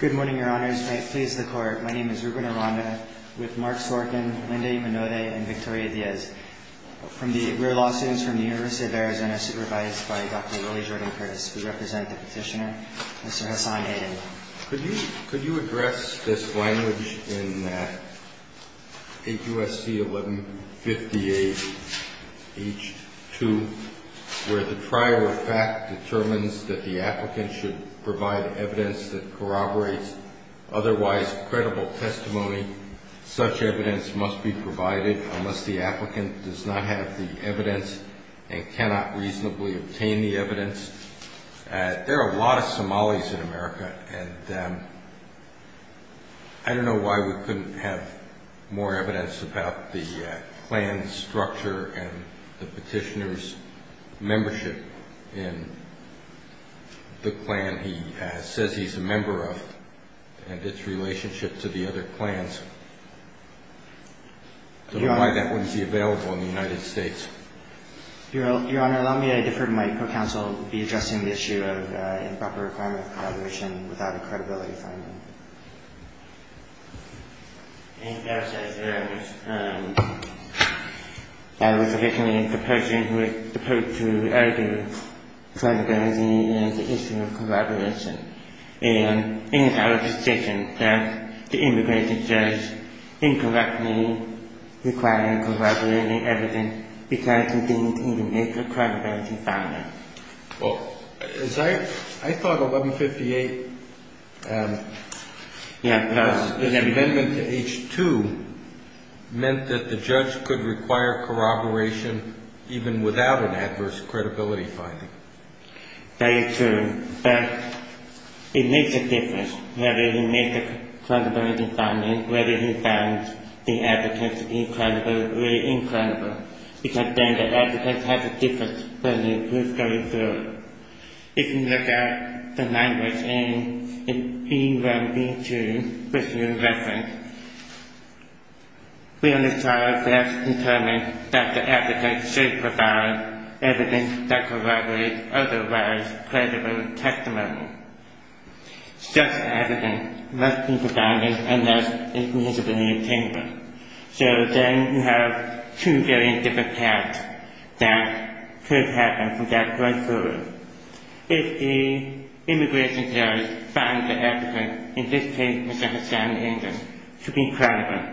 Good morning, Your Honors. May it please the Court, my name is Ruben Aranda, with Mark Sorkin, Linda Imanode, and Victoria Diaz. We're law students from the University of Arizona, supervised by Dr. Willie Jordan-Curtis. We represent the petitioner, Mr. Hasan Aydin. Could you address this language in 8 U.S.C. 1158 H.2, where the prior effect determines that the applicant should provide evidence that corroborates otherwise credible testimony. Such evidence must be provided unless the applicant does not have the evidence and cannot reasonably obtain the evidence. There are a lot of Somalis in America, and I don't know why we couldn't have more evidence about the clan structure and the petitioner's membership in the clan he says he's a member of, and its relationship to the other clans. I don't know why that wouldn't be available in the United States. Your Honor, allow me to defer to Mike for counsel to be addressing the issue of improper requirement of corroboration without a credibility finding. Thank you, Your Honor. I was originally the person who was supposed to argue credibility and the issue of corroboration, and it is our position that the immigration judge incorrectly required corroborating evidence because he didn't even make a credibility finding. I thought 1158, the amendment to H.2, meant that the judge could require corroboration even without an adverse credibility finding. That is true, but it makes a difference whether he makes a credibility finding, whether he finds the evidence incredibly, really incredible, because then the applicant has a difference when he is going through it. If you look at the language in 1182, which you referenced, we on this trial first determined that the applicant should provide evidence that corroborates otherwise credible testimony. Such evidence must be provided unless it is meaningfully obtainable. So then you have two very different paths that could happen from that point forward. If the immigration judge finds the applicant, in this case Mr. Hassan Injun, to be credible,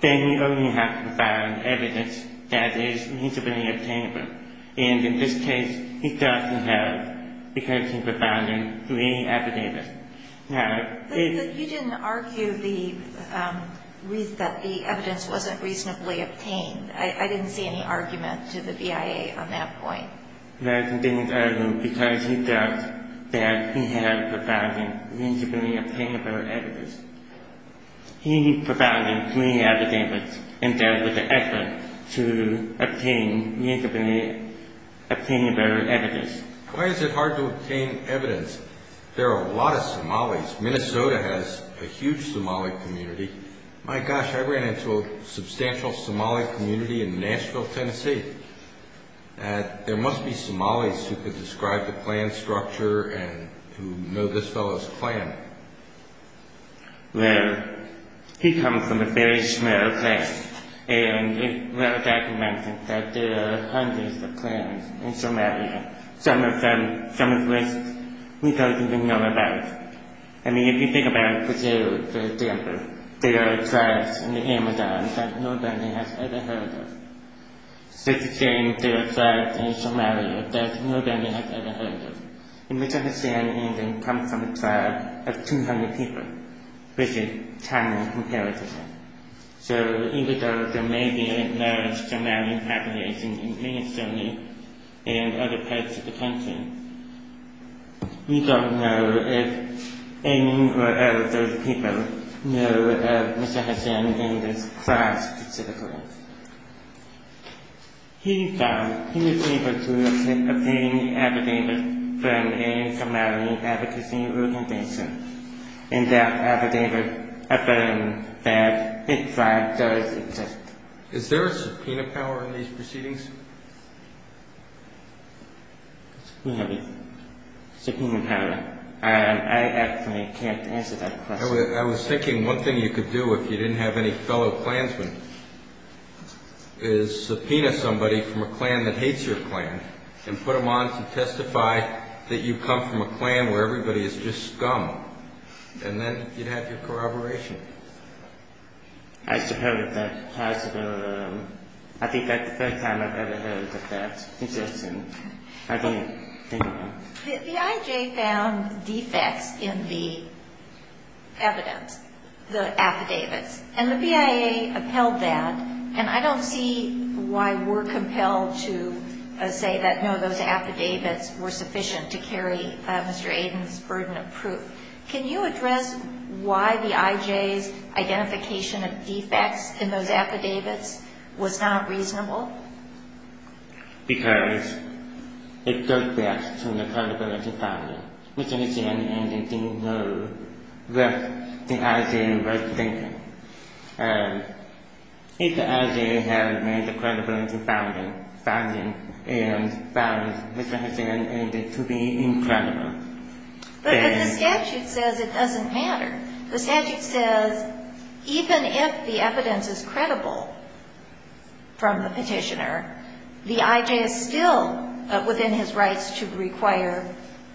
then we only have to provide evidence that is meaningfully obtainable. And in this case, he doesn't have, because he provided three affidavits. But you didn't argue that the evidence wasn't reasonably obtained. I didn't see any argument to the BIA on that point. No, he didn't argue because he felt that he had to provide reasonably obtainable evidence. He provided three affidavits instead with the effort to obtain reasonably obtainable evidence. Why is it hard to obtain evidence? There are a lot of Somalis. Minnesota has a huge Somali community. My gosh, I ran into a substantial Somali community in Nashville, Tennessee. There must be Somalis who could describe the plan structure and who know this fellow's plan. Well, he comes from a very small class, and there are documents that there are hundreds of clans in Somalia, some of which we don't even know about. I mean, if you think about Brazil, for example, there are tribes in the Amazon that nobody has ever heard of. So even though there may be a large Somali population in Minnesota and other parts of the country, we don't know if any of those people know of Mr. Hassan and his tribe specifically. He was able to obtain affidavits from a Somali advocacy organization, and that affidavit affirms that his tribe does exist. Is there a subpoena power in these proceedings? We have a subpoena power. I actually can't answer that question. I was thinking one thing you could do if you didn't have any fellow clansmen. Is subpoena somebody from a clan that hates your clan and put them on to testify that you come from a clan where everybody is just scum, and then you'd have your corroboration. I should have heard of that. I think that's the first time I've ever heard of that suggestion. The IJ found defects in the evidence, the affidavits, and the BIA upheld that, and I don't see why we're compelled to say that, no, those affidavits were sufficient to carry Mr. Aden's burden of proof. Can you address why the IJ's identification of defects in those affidavits was not reasonable? Because it goes back to the credibility founding. Mr. Hassan Aden didn't know what the IJ was thinking. If the IJ had made the credibility founding, and found Mr. Hassan Aden to be incredible, then... But the statute says it doesn't matter. The statute says even if the evidence is credible from the petitioner, the IJ is still within his rights to require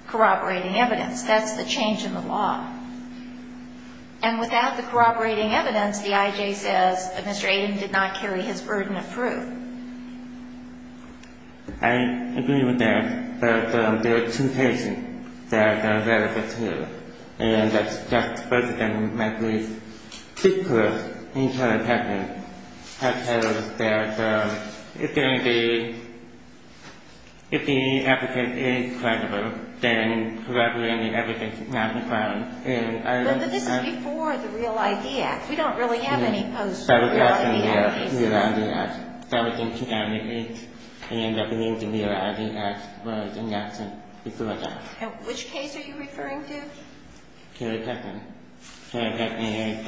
corroborating evidence. That's the change in the law. And without the corroborating evidence, the IJ says Mr. Aden did not carry his burden of proof. I agree with that, but there are two cases that are relevant here, and I suggest both of them might please speak to us in court and tell us that if the affidavit is credible, then corroborating evidence is not a crime. But this is before the Real I.D. Act. We don't really have any posts for the Real I.D. Act. That was in 2008, and that means the Real I.D. Act was enacted before that. And which case are you referring to? Kelly Peckman. Kelly Peckman,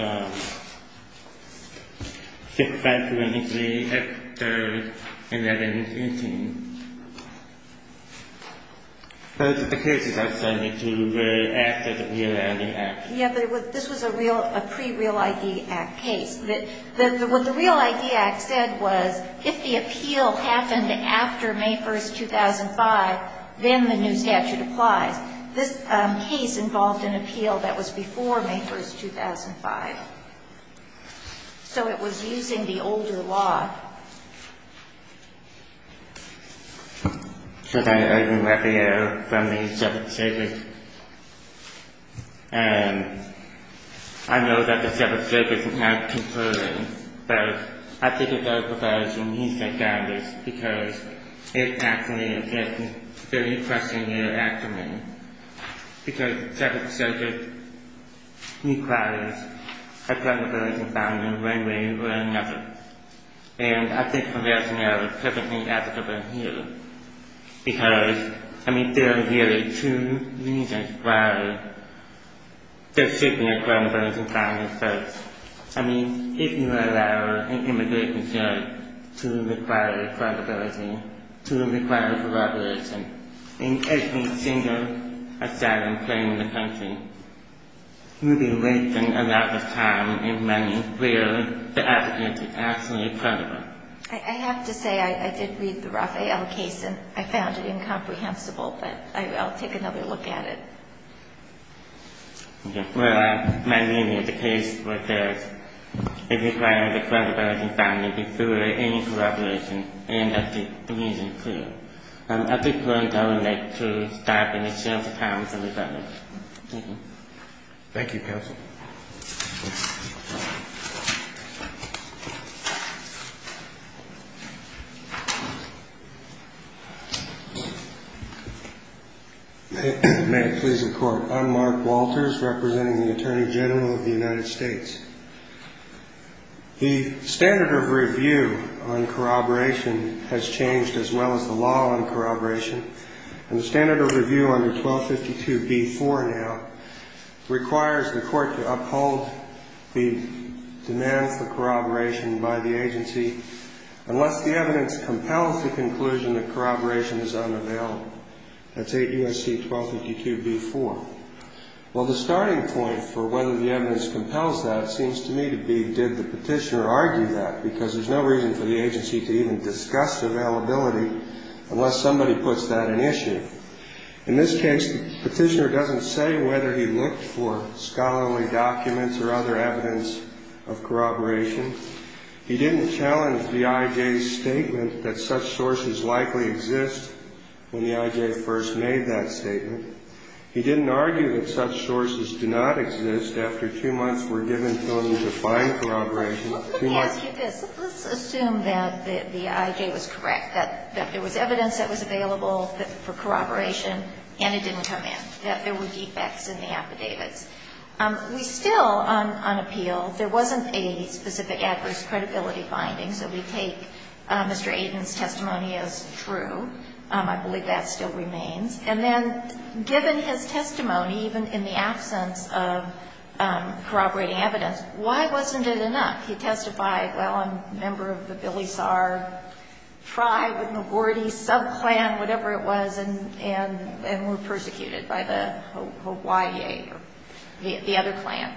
6-5-23-X-3-11-18. Both of the cases I've cited to you were after the Real I.D. Act. Yeah, but this was a pre-Real I.D. Act case. What the Real I.D. Act said was if the appeal happened after May 1, 2005, then the new statute applies. This case involved an appeal that was before May 1, 2005. So it was using the older law. So that is an appeal from the Seventh Circuit. And I know that the Seventh Circuit is not concluding, but I think it does provide some reason for this, because it's actually a very pressing matter for me. Because the Seventh Circuit requires a criminal conviction found in one way or another. And I think the rationale is perfectly applicable here. Because, I mean, there are really two reasons why there should be a criminal conviction found in this case. I mean, if you allow an immigration judge to require a criminal conviction, to require corroboration, you'd be wasting a lot of time and money where the evidence is actually credible. I have to say, I did read the Rafael case, and I found it incomprehensible, but I'll take another look at it. Well, my meaning of the case was this. It requires a criminal conviction found to be through any corroboration, and that's the reason, too. At this point, I would like to stop and share the comments of the defendants. Thank you, counsel. May it please the Court. I'm Mark Walters, representing the Attorney General of the United States. The standard of review on corroboration has changed, as well as the law on corroboration. And the standard of review under 1252b-4 now requires the Court to uphold the demands for corroboration by the agency unless the evidence compels the conclusion that corroboration is unavailable. That's 8 U.S.C. 1252b-4. Well, the starting point for whether the evidence compels that seems to me to be, did the petitioner argue that? Because there's no reason for the agency to even discuss availability unless somebody puts that in issue. In this case, the petitioner doesn't say whether he looked for scholarly documents or other evidence of corroboration. He didn't challenge the I.J.'s statement that such sources likely exist when the I.J. first made that statement. He didn't argue that such sources do not exist after two months were given to him to find corroboration. Let me ask you this. Let's assume that the I.J. was correct, that there was evidence that was available for corroboration, and it didn't come in, that there were defects in the affidavits. We still, on appeal, there wasn't a specific adverse credibility finding. So we take Mr. Aiden's testimony as true. I believe that still remains. And then given his testimony, even in the absence of corroborating evidence, why wasn't it enough? He testified, well, I'm a member of the Billy Saar tribe, the McGordy sub-clan, whatever it was, and were persecuted by the Hawaii, the other clan.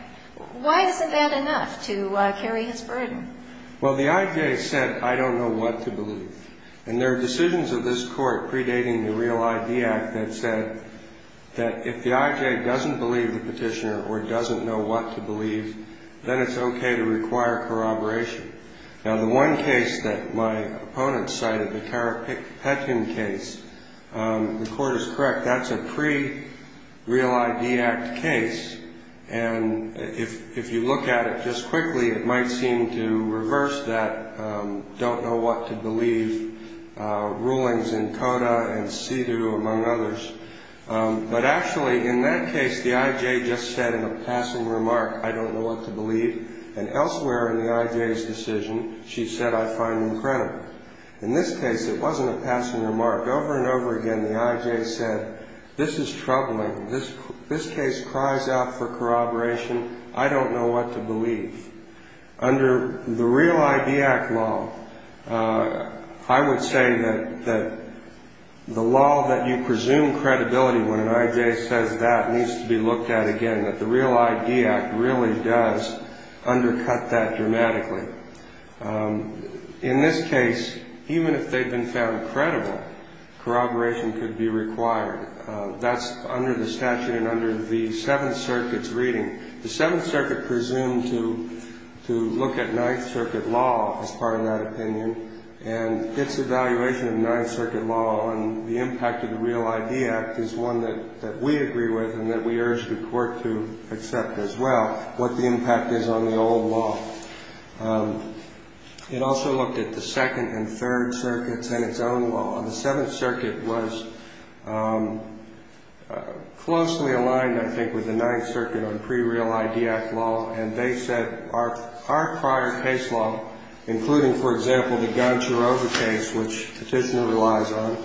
Why isn't that enough to carry his burden? Well, the I.J. said, I don't know what to believe. And there are decisions of this Court predating the Real ID Act that said that if the I.J. doesn't believe the petitioner or doesn't know what to believe, then it's okay to require corroboration. Now, the one case that my opponent cited, the Carrick-Petkin case, the Court is correct. That's a pre-Real ID Act case. And if you look at it just quickly, it might seem to reverse that don't know what to believe rulings in CODA and CEDAW, among others. But actually, in that case, the I.J. just said in a passing remark, I don't know what to believe. And elsewhere in the I.J.'s decision, she said, I find them credible. In this case, it wasn't a passing remark. Over and over again, the I.J. said, this is troubling. This case cries out for corroboration. I don't know what to believe. Under the Real ID Act law, I would say that the law that you presume credibility when an I.J. says that needs to be looked at again, that the Real ID Act really does undercut that dramatically. In this case, even if they've been found credible, corroboration could be required. That's under the statute and under the Seventh Circuit's reading. The Seventh Circuit presumed to look at Ninth Circuit law as part of that opinion, and its evaluation of Ninth Circuit law on the impact of the Real ID Act is one that we agree with and that we urge the court to accept as well, what the impact is on the old law. It also looked at the Second and Third Circuits and its own law. The Seventh Circuit was closely aligned, I think, with the Ninth Circuit on pre-Real ID Act law, and they said our prior case law, including, for example, the Goncharova case, which Petitioner relies on,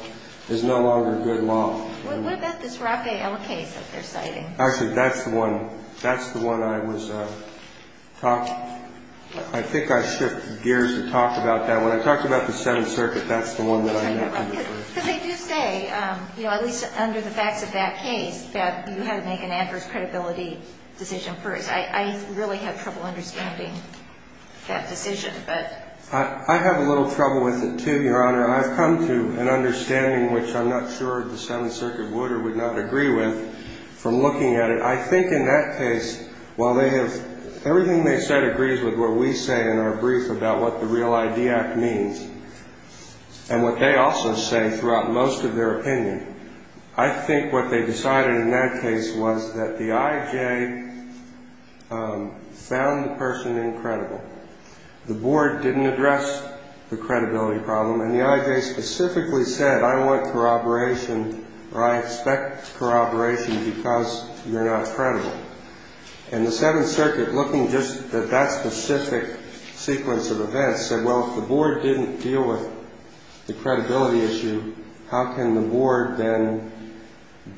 is no longer good law. What about this Rapéh L case that they're citing? Actually, that's the one. That's the one I was talking – I think I shifted gears to talk about that. When I talked about the Seventh Circuit, that's the one that I meant. Because they do say, at least under the facts of that case, that you have to make an adverse credibility decision first. I really have trouble understanding that decision. I have a little trouble with it, too, Your Honor. I've come to an understanding, which I'm not sure the Seventh Circuit would or would not agree with, from looking at it. I think in that case, while they have – everything they said agrees with what we say in our brief about what the Real ID Act means, and what they also say throughout most of their opinion, I think what they decided in that case was that the IJ found the person incredible. The Board didn't address the credibility problem, and the IJ specifically said, I want corroboration or I expect corroboration because you're not credible. And the Seventh Circuit, looking just at that specific sequence of events, said, well, if the Board didn't deal with the credibility issue, how can the Board then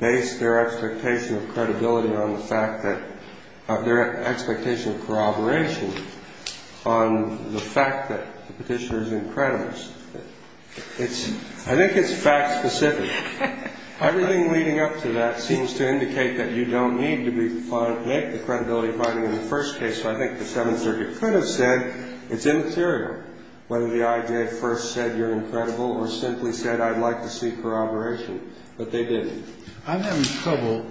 base their expectation of credibility on the fact that – I think it's fact specific. Everything leading up to that seems to indicate that you don't need to make the credibility finding in the first case, so I think the Seventh Circuit could have said, it's immaterial, whether the IJ first said you're incredible or simply said, I'd like to see corroboration, but they didn't. I'm having trouble,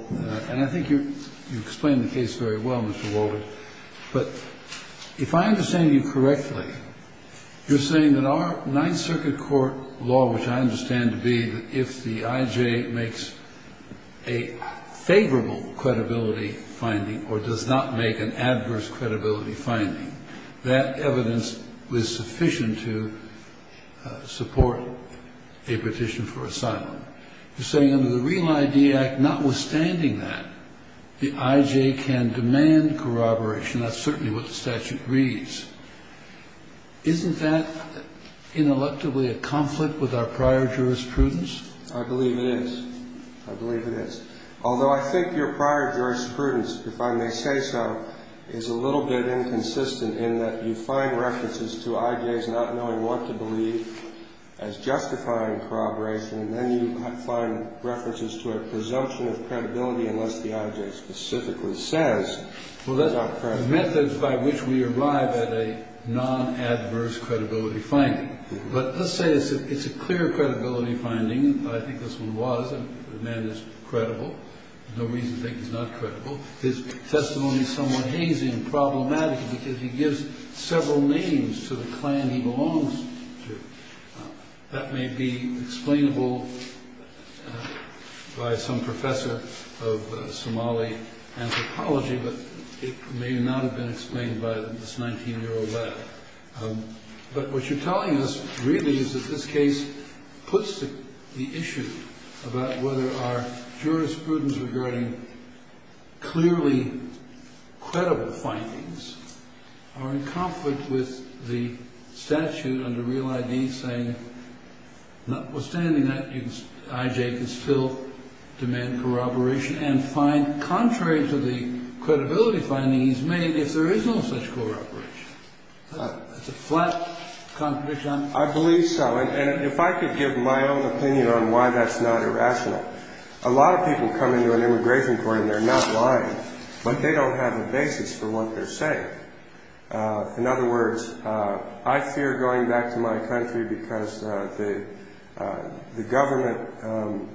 and I think you explained the case very well, Mr. Walden, but if I understand you correctly, you're saying that our Ninth Circuit court law, which I understand to be that if the IJ makes a favorable credibility finding or does not make an adverse credibility finding, that evidence was sufficient to support a petition for asylum. You're saying under the Real ID Act, notwithstanding that, the IJ can demand corroboration. That's certainly what the statute reads. Isn't that, ineluctably, a conflict with our prior jurisprudence? I believe it is. I believe it is. Although I think your prior jurisprudence, if I may say so, is a little bit inconsistent in that you find references to IJs not knowing what to believe as justifying corroboration, and then you find references to a presumption of credibility unless the IJ specifically says it's not credible. Well, that's the methods by which we arrive at a non-adverse credibility finding. But let's say it's a clear credibility finding. I think this one was. The man is credible. No reason to think he's not credible. His testimony is somewhat hazy and problematic because he gives several names to the clan he belongs to. That may be explainable by some professor of Somali anthropology, but it may not have been explained by this 19-year-old lad. But what you're telling us really is that this case puts the issue about whether our jurisprudence regarding clearly credible findings are in conflict with the statute under Real ID saying notwithstanding that, IJ can still demand corroboration and find contrary to the credibility findings made if there is no such corroboration. It's a flat contradiction. I believe so. And if I could give my own opinion on why that's not irrational, A lot of people come into an immigration court and they're not lying, but they don't have a basis for what they're saying. In other words, I fear going back to my country because the government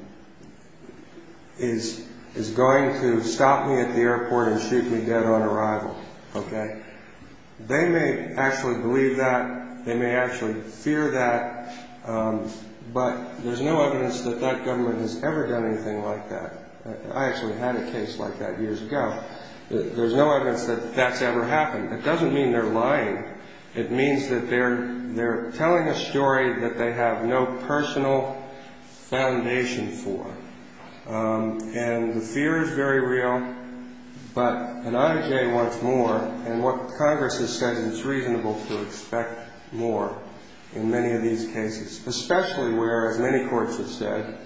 is going to stop me at the airport and shoot me dead on arrival. They may actually believe that. They may actually fear that. But there's no evidence that that government has ever done anything like that. I actually had a case like that years ago. There's no evidence that that's ever happened. It doesn't mean they're lying. It means that they're telling a story that they have no personal foundation for. And the fear is very real. But an IJ wants more, and what Congress has said is it's reasonable to expect more in many of these cases, especially where, as many courts have said,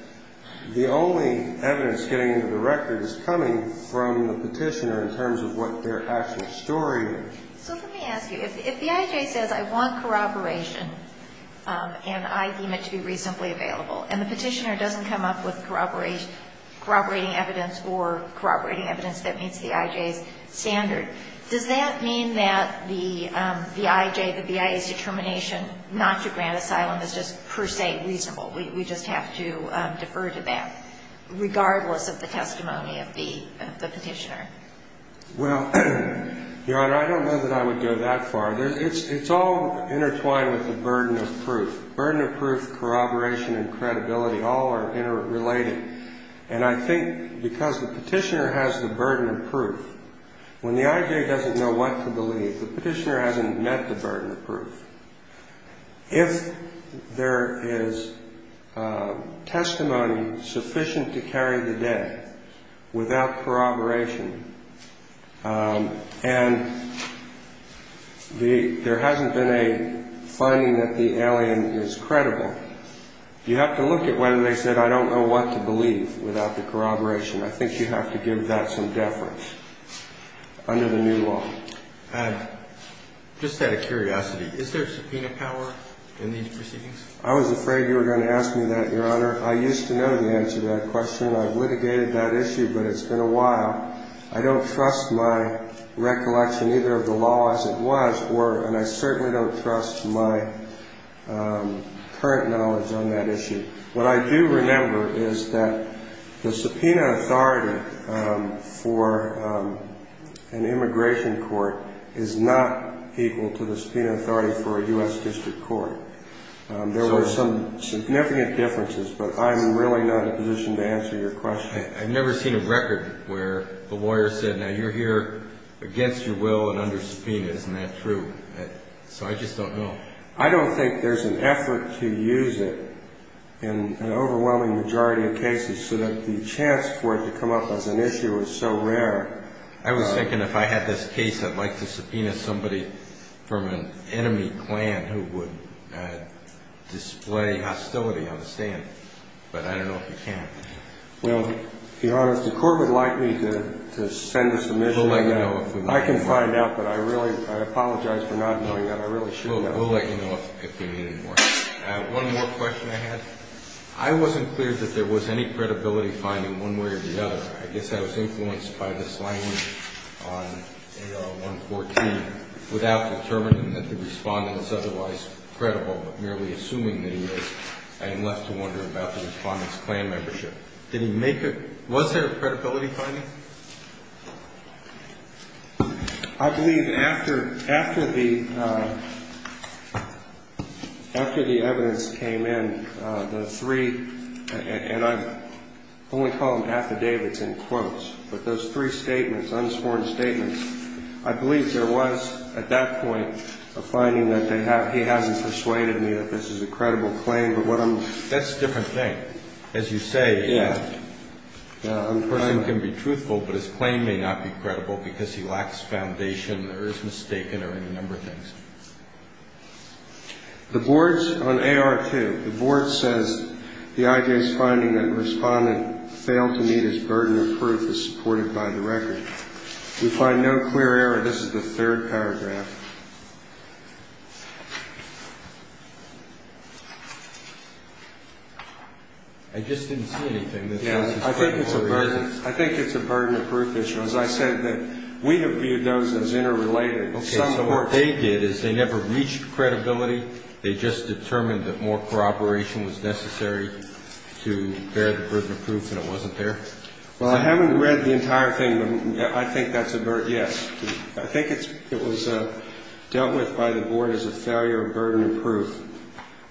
the only evidence getting into the record is coming from the petitioner in terms of what their actual story is. So let me ask you. If the IJ says, I want corroboration and I deem it to be reasonably available, and the petitioner doesn't come up with corroborating evidence or corroborating evidence that meets the IJ's standard, does that mean that the IJ, the BIA's determination not to grant asylum is just per se reasonable? We just have to defer to that, regardless of the testimony of the petitioner? Well, Your Honor, I don't know that I would go that far. It's all intertwined with the burden of proof. Burden of proof, corroboration, and credibility all are interrelated. And I think because the petitioner has the burden of proof, when the IJ doesn't know what to believe, the petitioner hasn't met the burden of proof. If there is testimony sufficient to carry the day without corroboration, and there hasn't been a finding that the alien is credible, you have to look at whether they said, I don't know what to believe without the corroboration. I think you have to give that some deference under the new law. Just out of curiosity, is there subpoena power in these proceedings? I was afraid you were going to ask me that, Your Honor. I used to know the answer to that question. I've litigated that issue, but it's been a while. I don't trust my recollection either of the law as it was, and I certainly don't trust my current knowledge on that issue. What I do remember is that the subpoena authority for an immigration court is not equal to the subpoena authority for a U.S. District Court. There were some significant differences, but I'm really not in a position to answer your question. I've never seen a record where a lawyer said, now, you're here against your will and under subpoena. Isn't that true? So I just don't know. I don't think there's an effort to use it in an overwhelming majority of cases so that the chance for it to come up as an issue is so rare. I was thinking if I had this case, I'd like to subpoena somebody from an enemy clan who would display hostility on the stand, but I don't know if you can. Well, Your Honor, if the court would like me to send a submission, I can find out, but I really apologize for not knowing that. We'll let you know if we need any more. One more question I had. I wasn't clear that there was any credibility finding one way or the other. I guess I was influenced by this language on 114 without determining that the respondent is otherwise credible, but merely assuming that he is. I am left to wonder about the respondent's clan membership. Was there a credibility finding? I believe after the evidence came in, the three, and I only call them affidavits in quotes, but those three statements, unsworn statements, I believe there was at that point a finding that he hasn't persuaded me that this is a credible claim. That's a different thing. As you say, a person can be truthful, but his claim may not be credible because he lacks foundation or is mistaken or any number of things. The board's on AR2. The board says the IJ's finding that the respondent failed to meet his burden of proof is supported by the record. We find no clear error. This is the third paragraph. I just didn't see anything. I think it's a burden. I think it's a burden of proof issue. As I said, we have viewed those as interrelated. Okay, so what they did is they never reached credibility. They just determined that more cooperation was necessary to bear the burden of proof and it wasn't there. Well, I haven't read the entire thing, but I think that's a burden. Yes. I think it was dealt with by the board as a failure of burden of proof.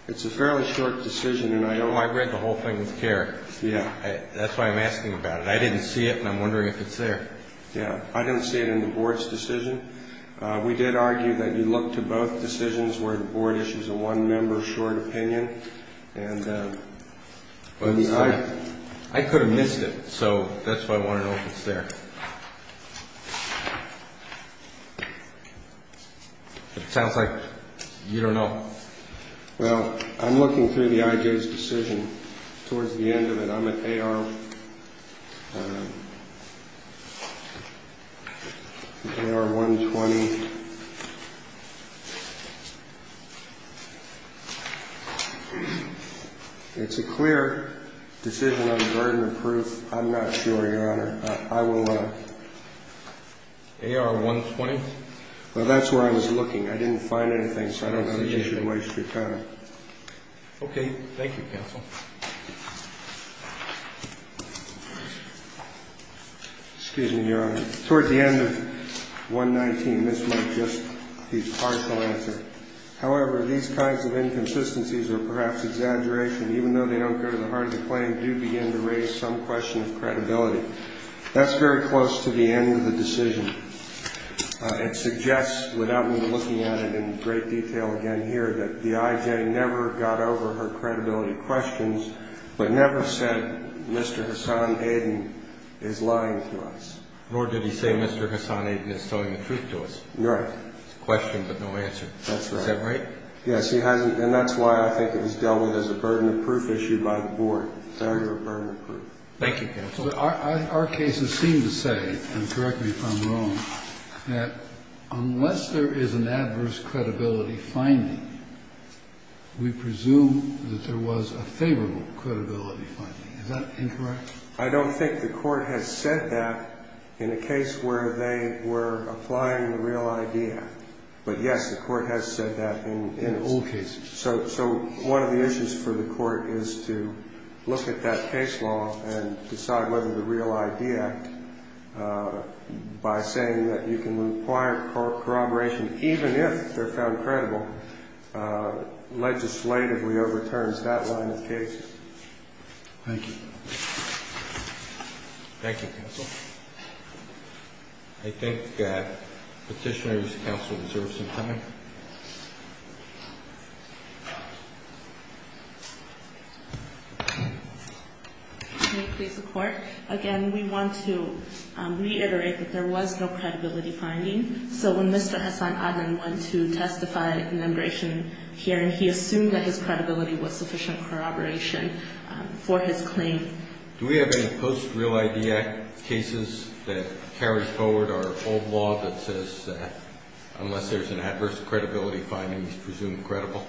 It's a fairly short decision. I read the whole thing with care. Yeah. That's why I'm asking about it. I didn't see it and I'm wondering if it's there. Yeah. I didn't see it in the board's decision. We did argue that you look to both decisions where the board issues a one-member short opinion. I could have missed it, so that's why I want to know if it's there. It sounds like you don't know. Well, I'm looking through the IJ's decision. Towards the end of it, I'm at AR 120. It's a clear decision on the burden of proof. I'm not sure, Your Honor. I will look. AR 120? Well, that's where I was looking. I didn't find anything, so I don't know that you should waste your time. Okay. Thank you, counsel. I'm at AR 120. I'm at AR 120. I'm at AR 120. I'm at AR 120. I'm at AR 120. I'm at AR 120. I'm at AR 120. I'm at AR 120. I'm at AR 120. I'm at AR 120. I'm at AR 120. Right. Question but no answer, is that right? Yes, he hasn't and that's why I think it was dealt with as a burden of proof issued by the board. Burden of proof. Thank you counselor. Our cases seem to say and correct me if I'm wrong, that unless there is an adverse credibility finding, we presume that there was a favorable credibility finding, is that incorrect? I don't think the court has said that in a case where they were applying the real idea. But yes, the court has said that in all cases. So one of the issues for the court is to look at that case law and decide whether the real idea, by saying that you can require corroboration even if they're found credible, legislatively overturns that line of cases. Thank you. Thank you, counsel. I think Petitioner's counsel deserves some time. Can you please report? Again, we want to reiterate that there was no credibility finding. So when Mr. Hasan Adnan went to testify in the immigration hearing, he assumed that his claim. Do we have any post real idea cases that carries forward our old law that says that unless there's an adverse credibility finding, we presume credible?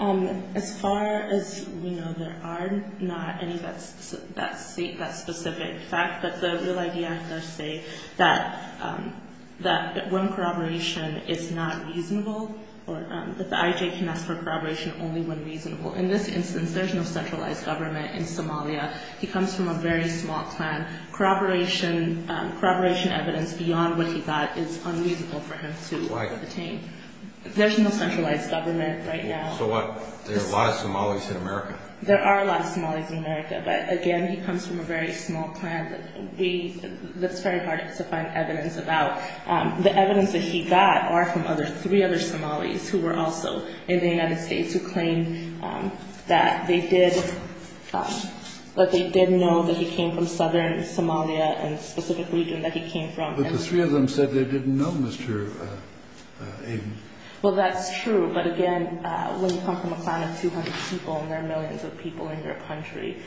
As far as we know, there are not any that state that specific fact that the real idea act does say that when corroboration is not reasonable, that the IJ can ask for corroboration only when reasonable. In this instance, there's no centralized government in Somalia. He comes from a very small clan. Corroboration evidence beyond what he got is unreasonable for him to obtain. Why? There's no centralized government right now. So what? There are a lot of Somalis in America. There are a lot of Somalis in America, but again, he comes from a very small clan. That's very hard to find evidence about. The evidence that he got are from three other Somalis who were also in the United States who claim that they did, that they did know that he came from southern Somalia and specific region that he came from. But the three of them said they didn't know Mr. Aden. Well, that's true. But again, when you come from a clan of 200 people and there are millions of people in your country,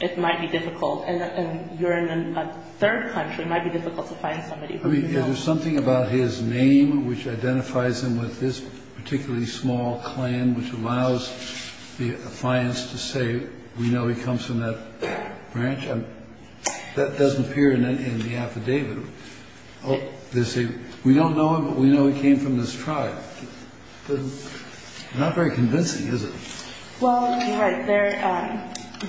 it might be difficult. And you're in a third country. It might be difficult to find somebody who you don't know. There's something about his name which identifies him with this particularly small clan which allows the defiance to say we know he comes from that branch. That doesn't appear in the affidavit. They say we don't know him, but we know he came from this tribe. Not very convincing, is it? Well, you're right.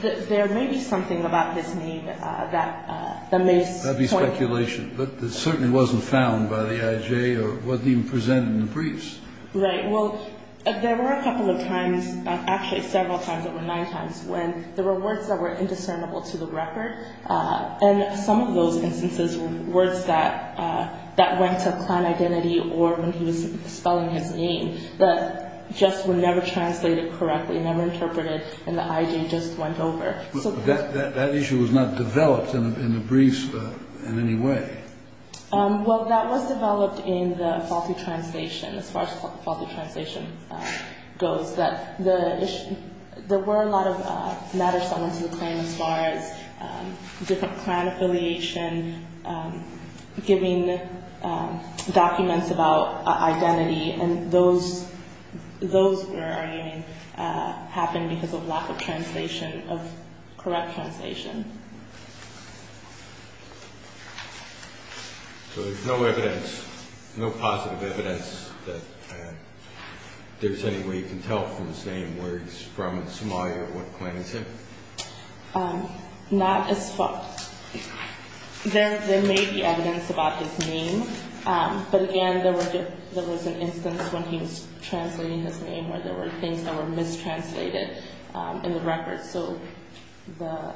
There may be something about this name that makes point. That would be speculation. But it certainly wasn't found by the IJ or wasn't even presented in the briefs. Right. Well, there were a couple of times, actually several times, there were nine times, when there were words that were indiscernible to the record. And some of those instances were words that went to a clan identity or when he was spelling his name that just were never translated correctly, never interpreted, and the IJ just went over. That issue was not developed in the briefs in any way. Well, that was developed in the faulty translation, as far as faulty translation goes. There were a lot of matters that went to the claim as far as different clan affiliation, giving documents about identity, and those were happening because of lack of translation, of correct translation. So there's no evidence, no positive evidence that there's any way you can tell from his name where he's from in Somalia or what clan he's in? Not as far. There may be evidence about his name. But, again, there was an instance when he was translating his name where there were things that were mistranslated in the records. Thank you,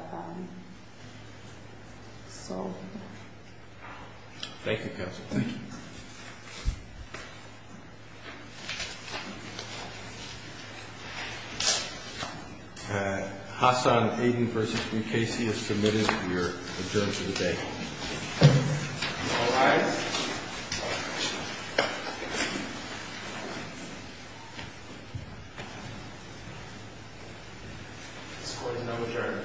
Counsel. Thank you. Hassan Aden v. Mukasey is submitted for your adjournment of the day. All rise. This court is now adjourned.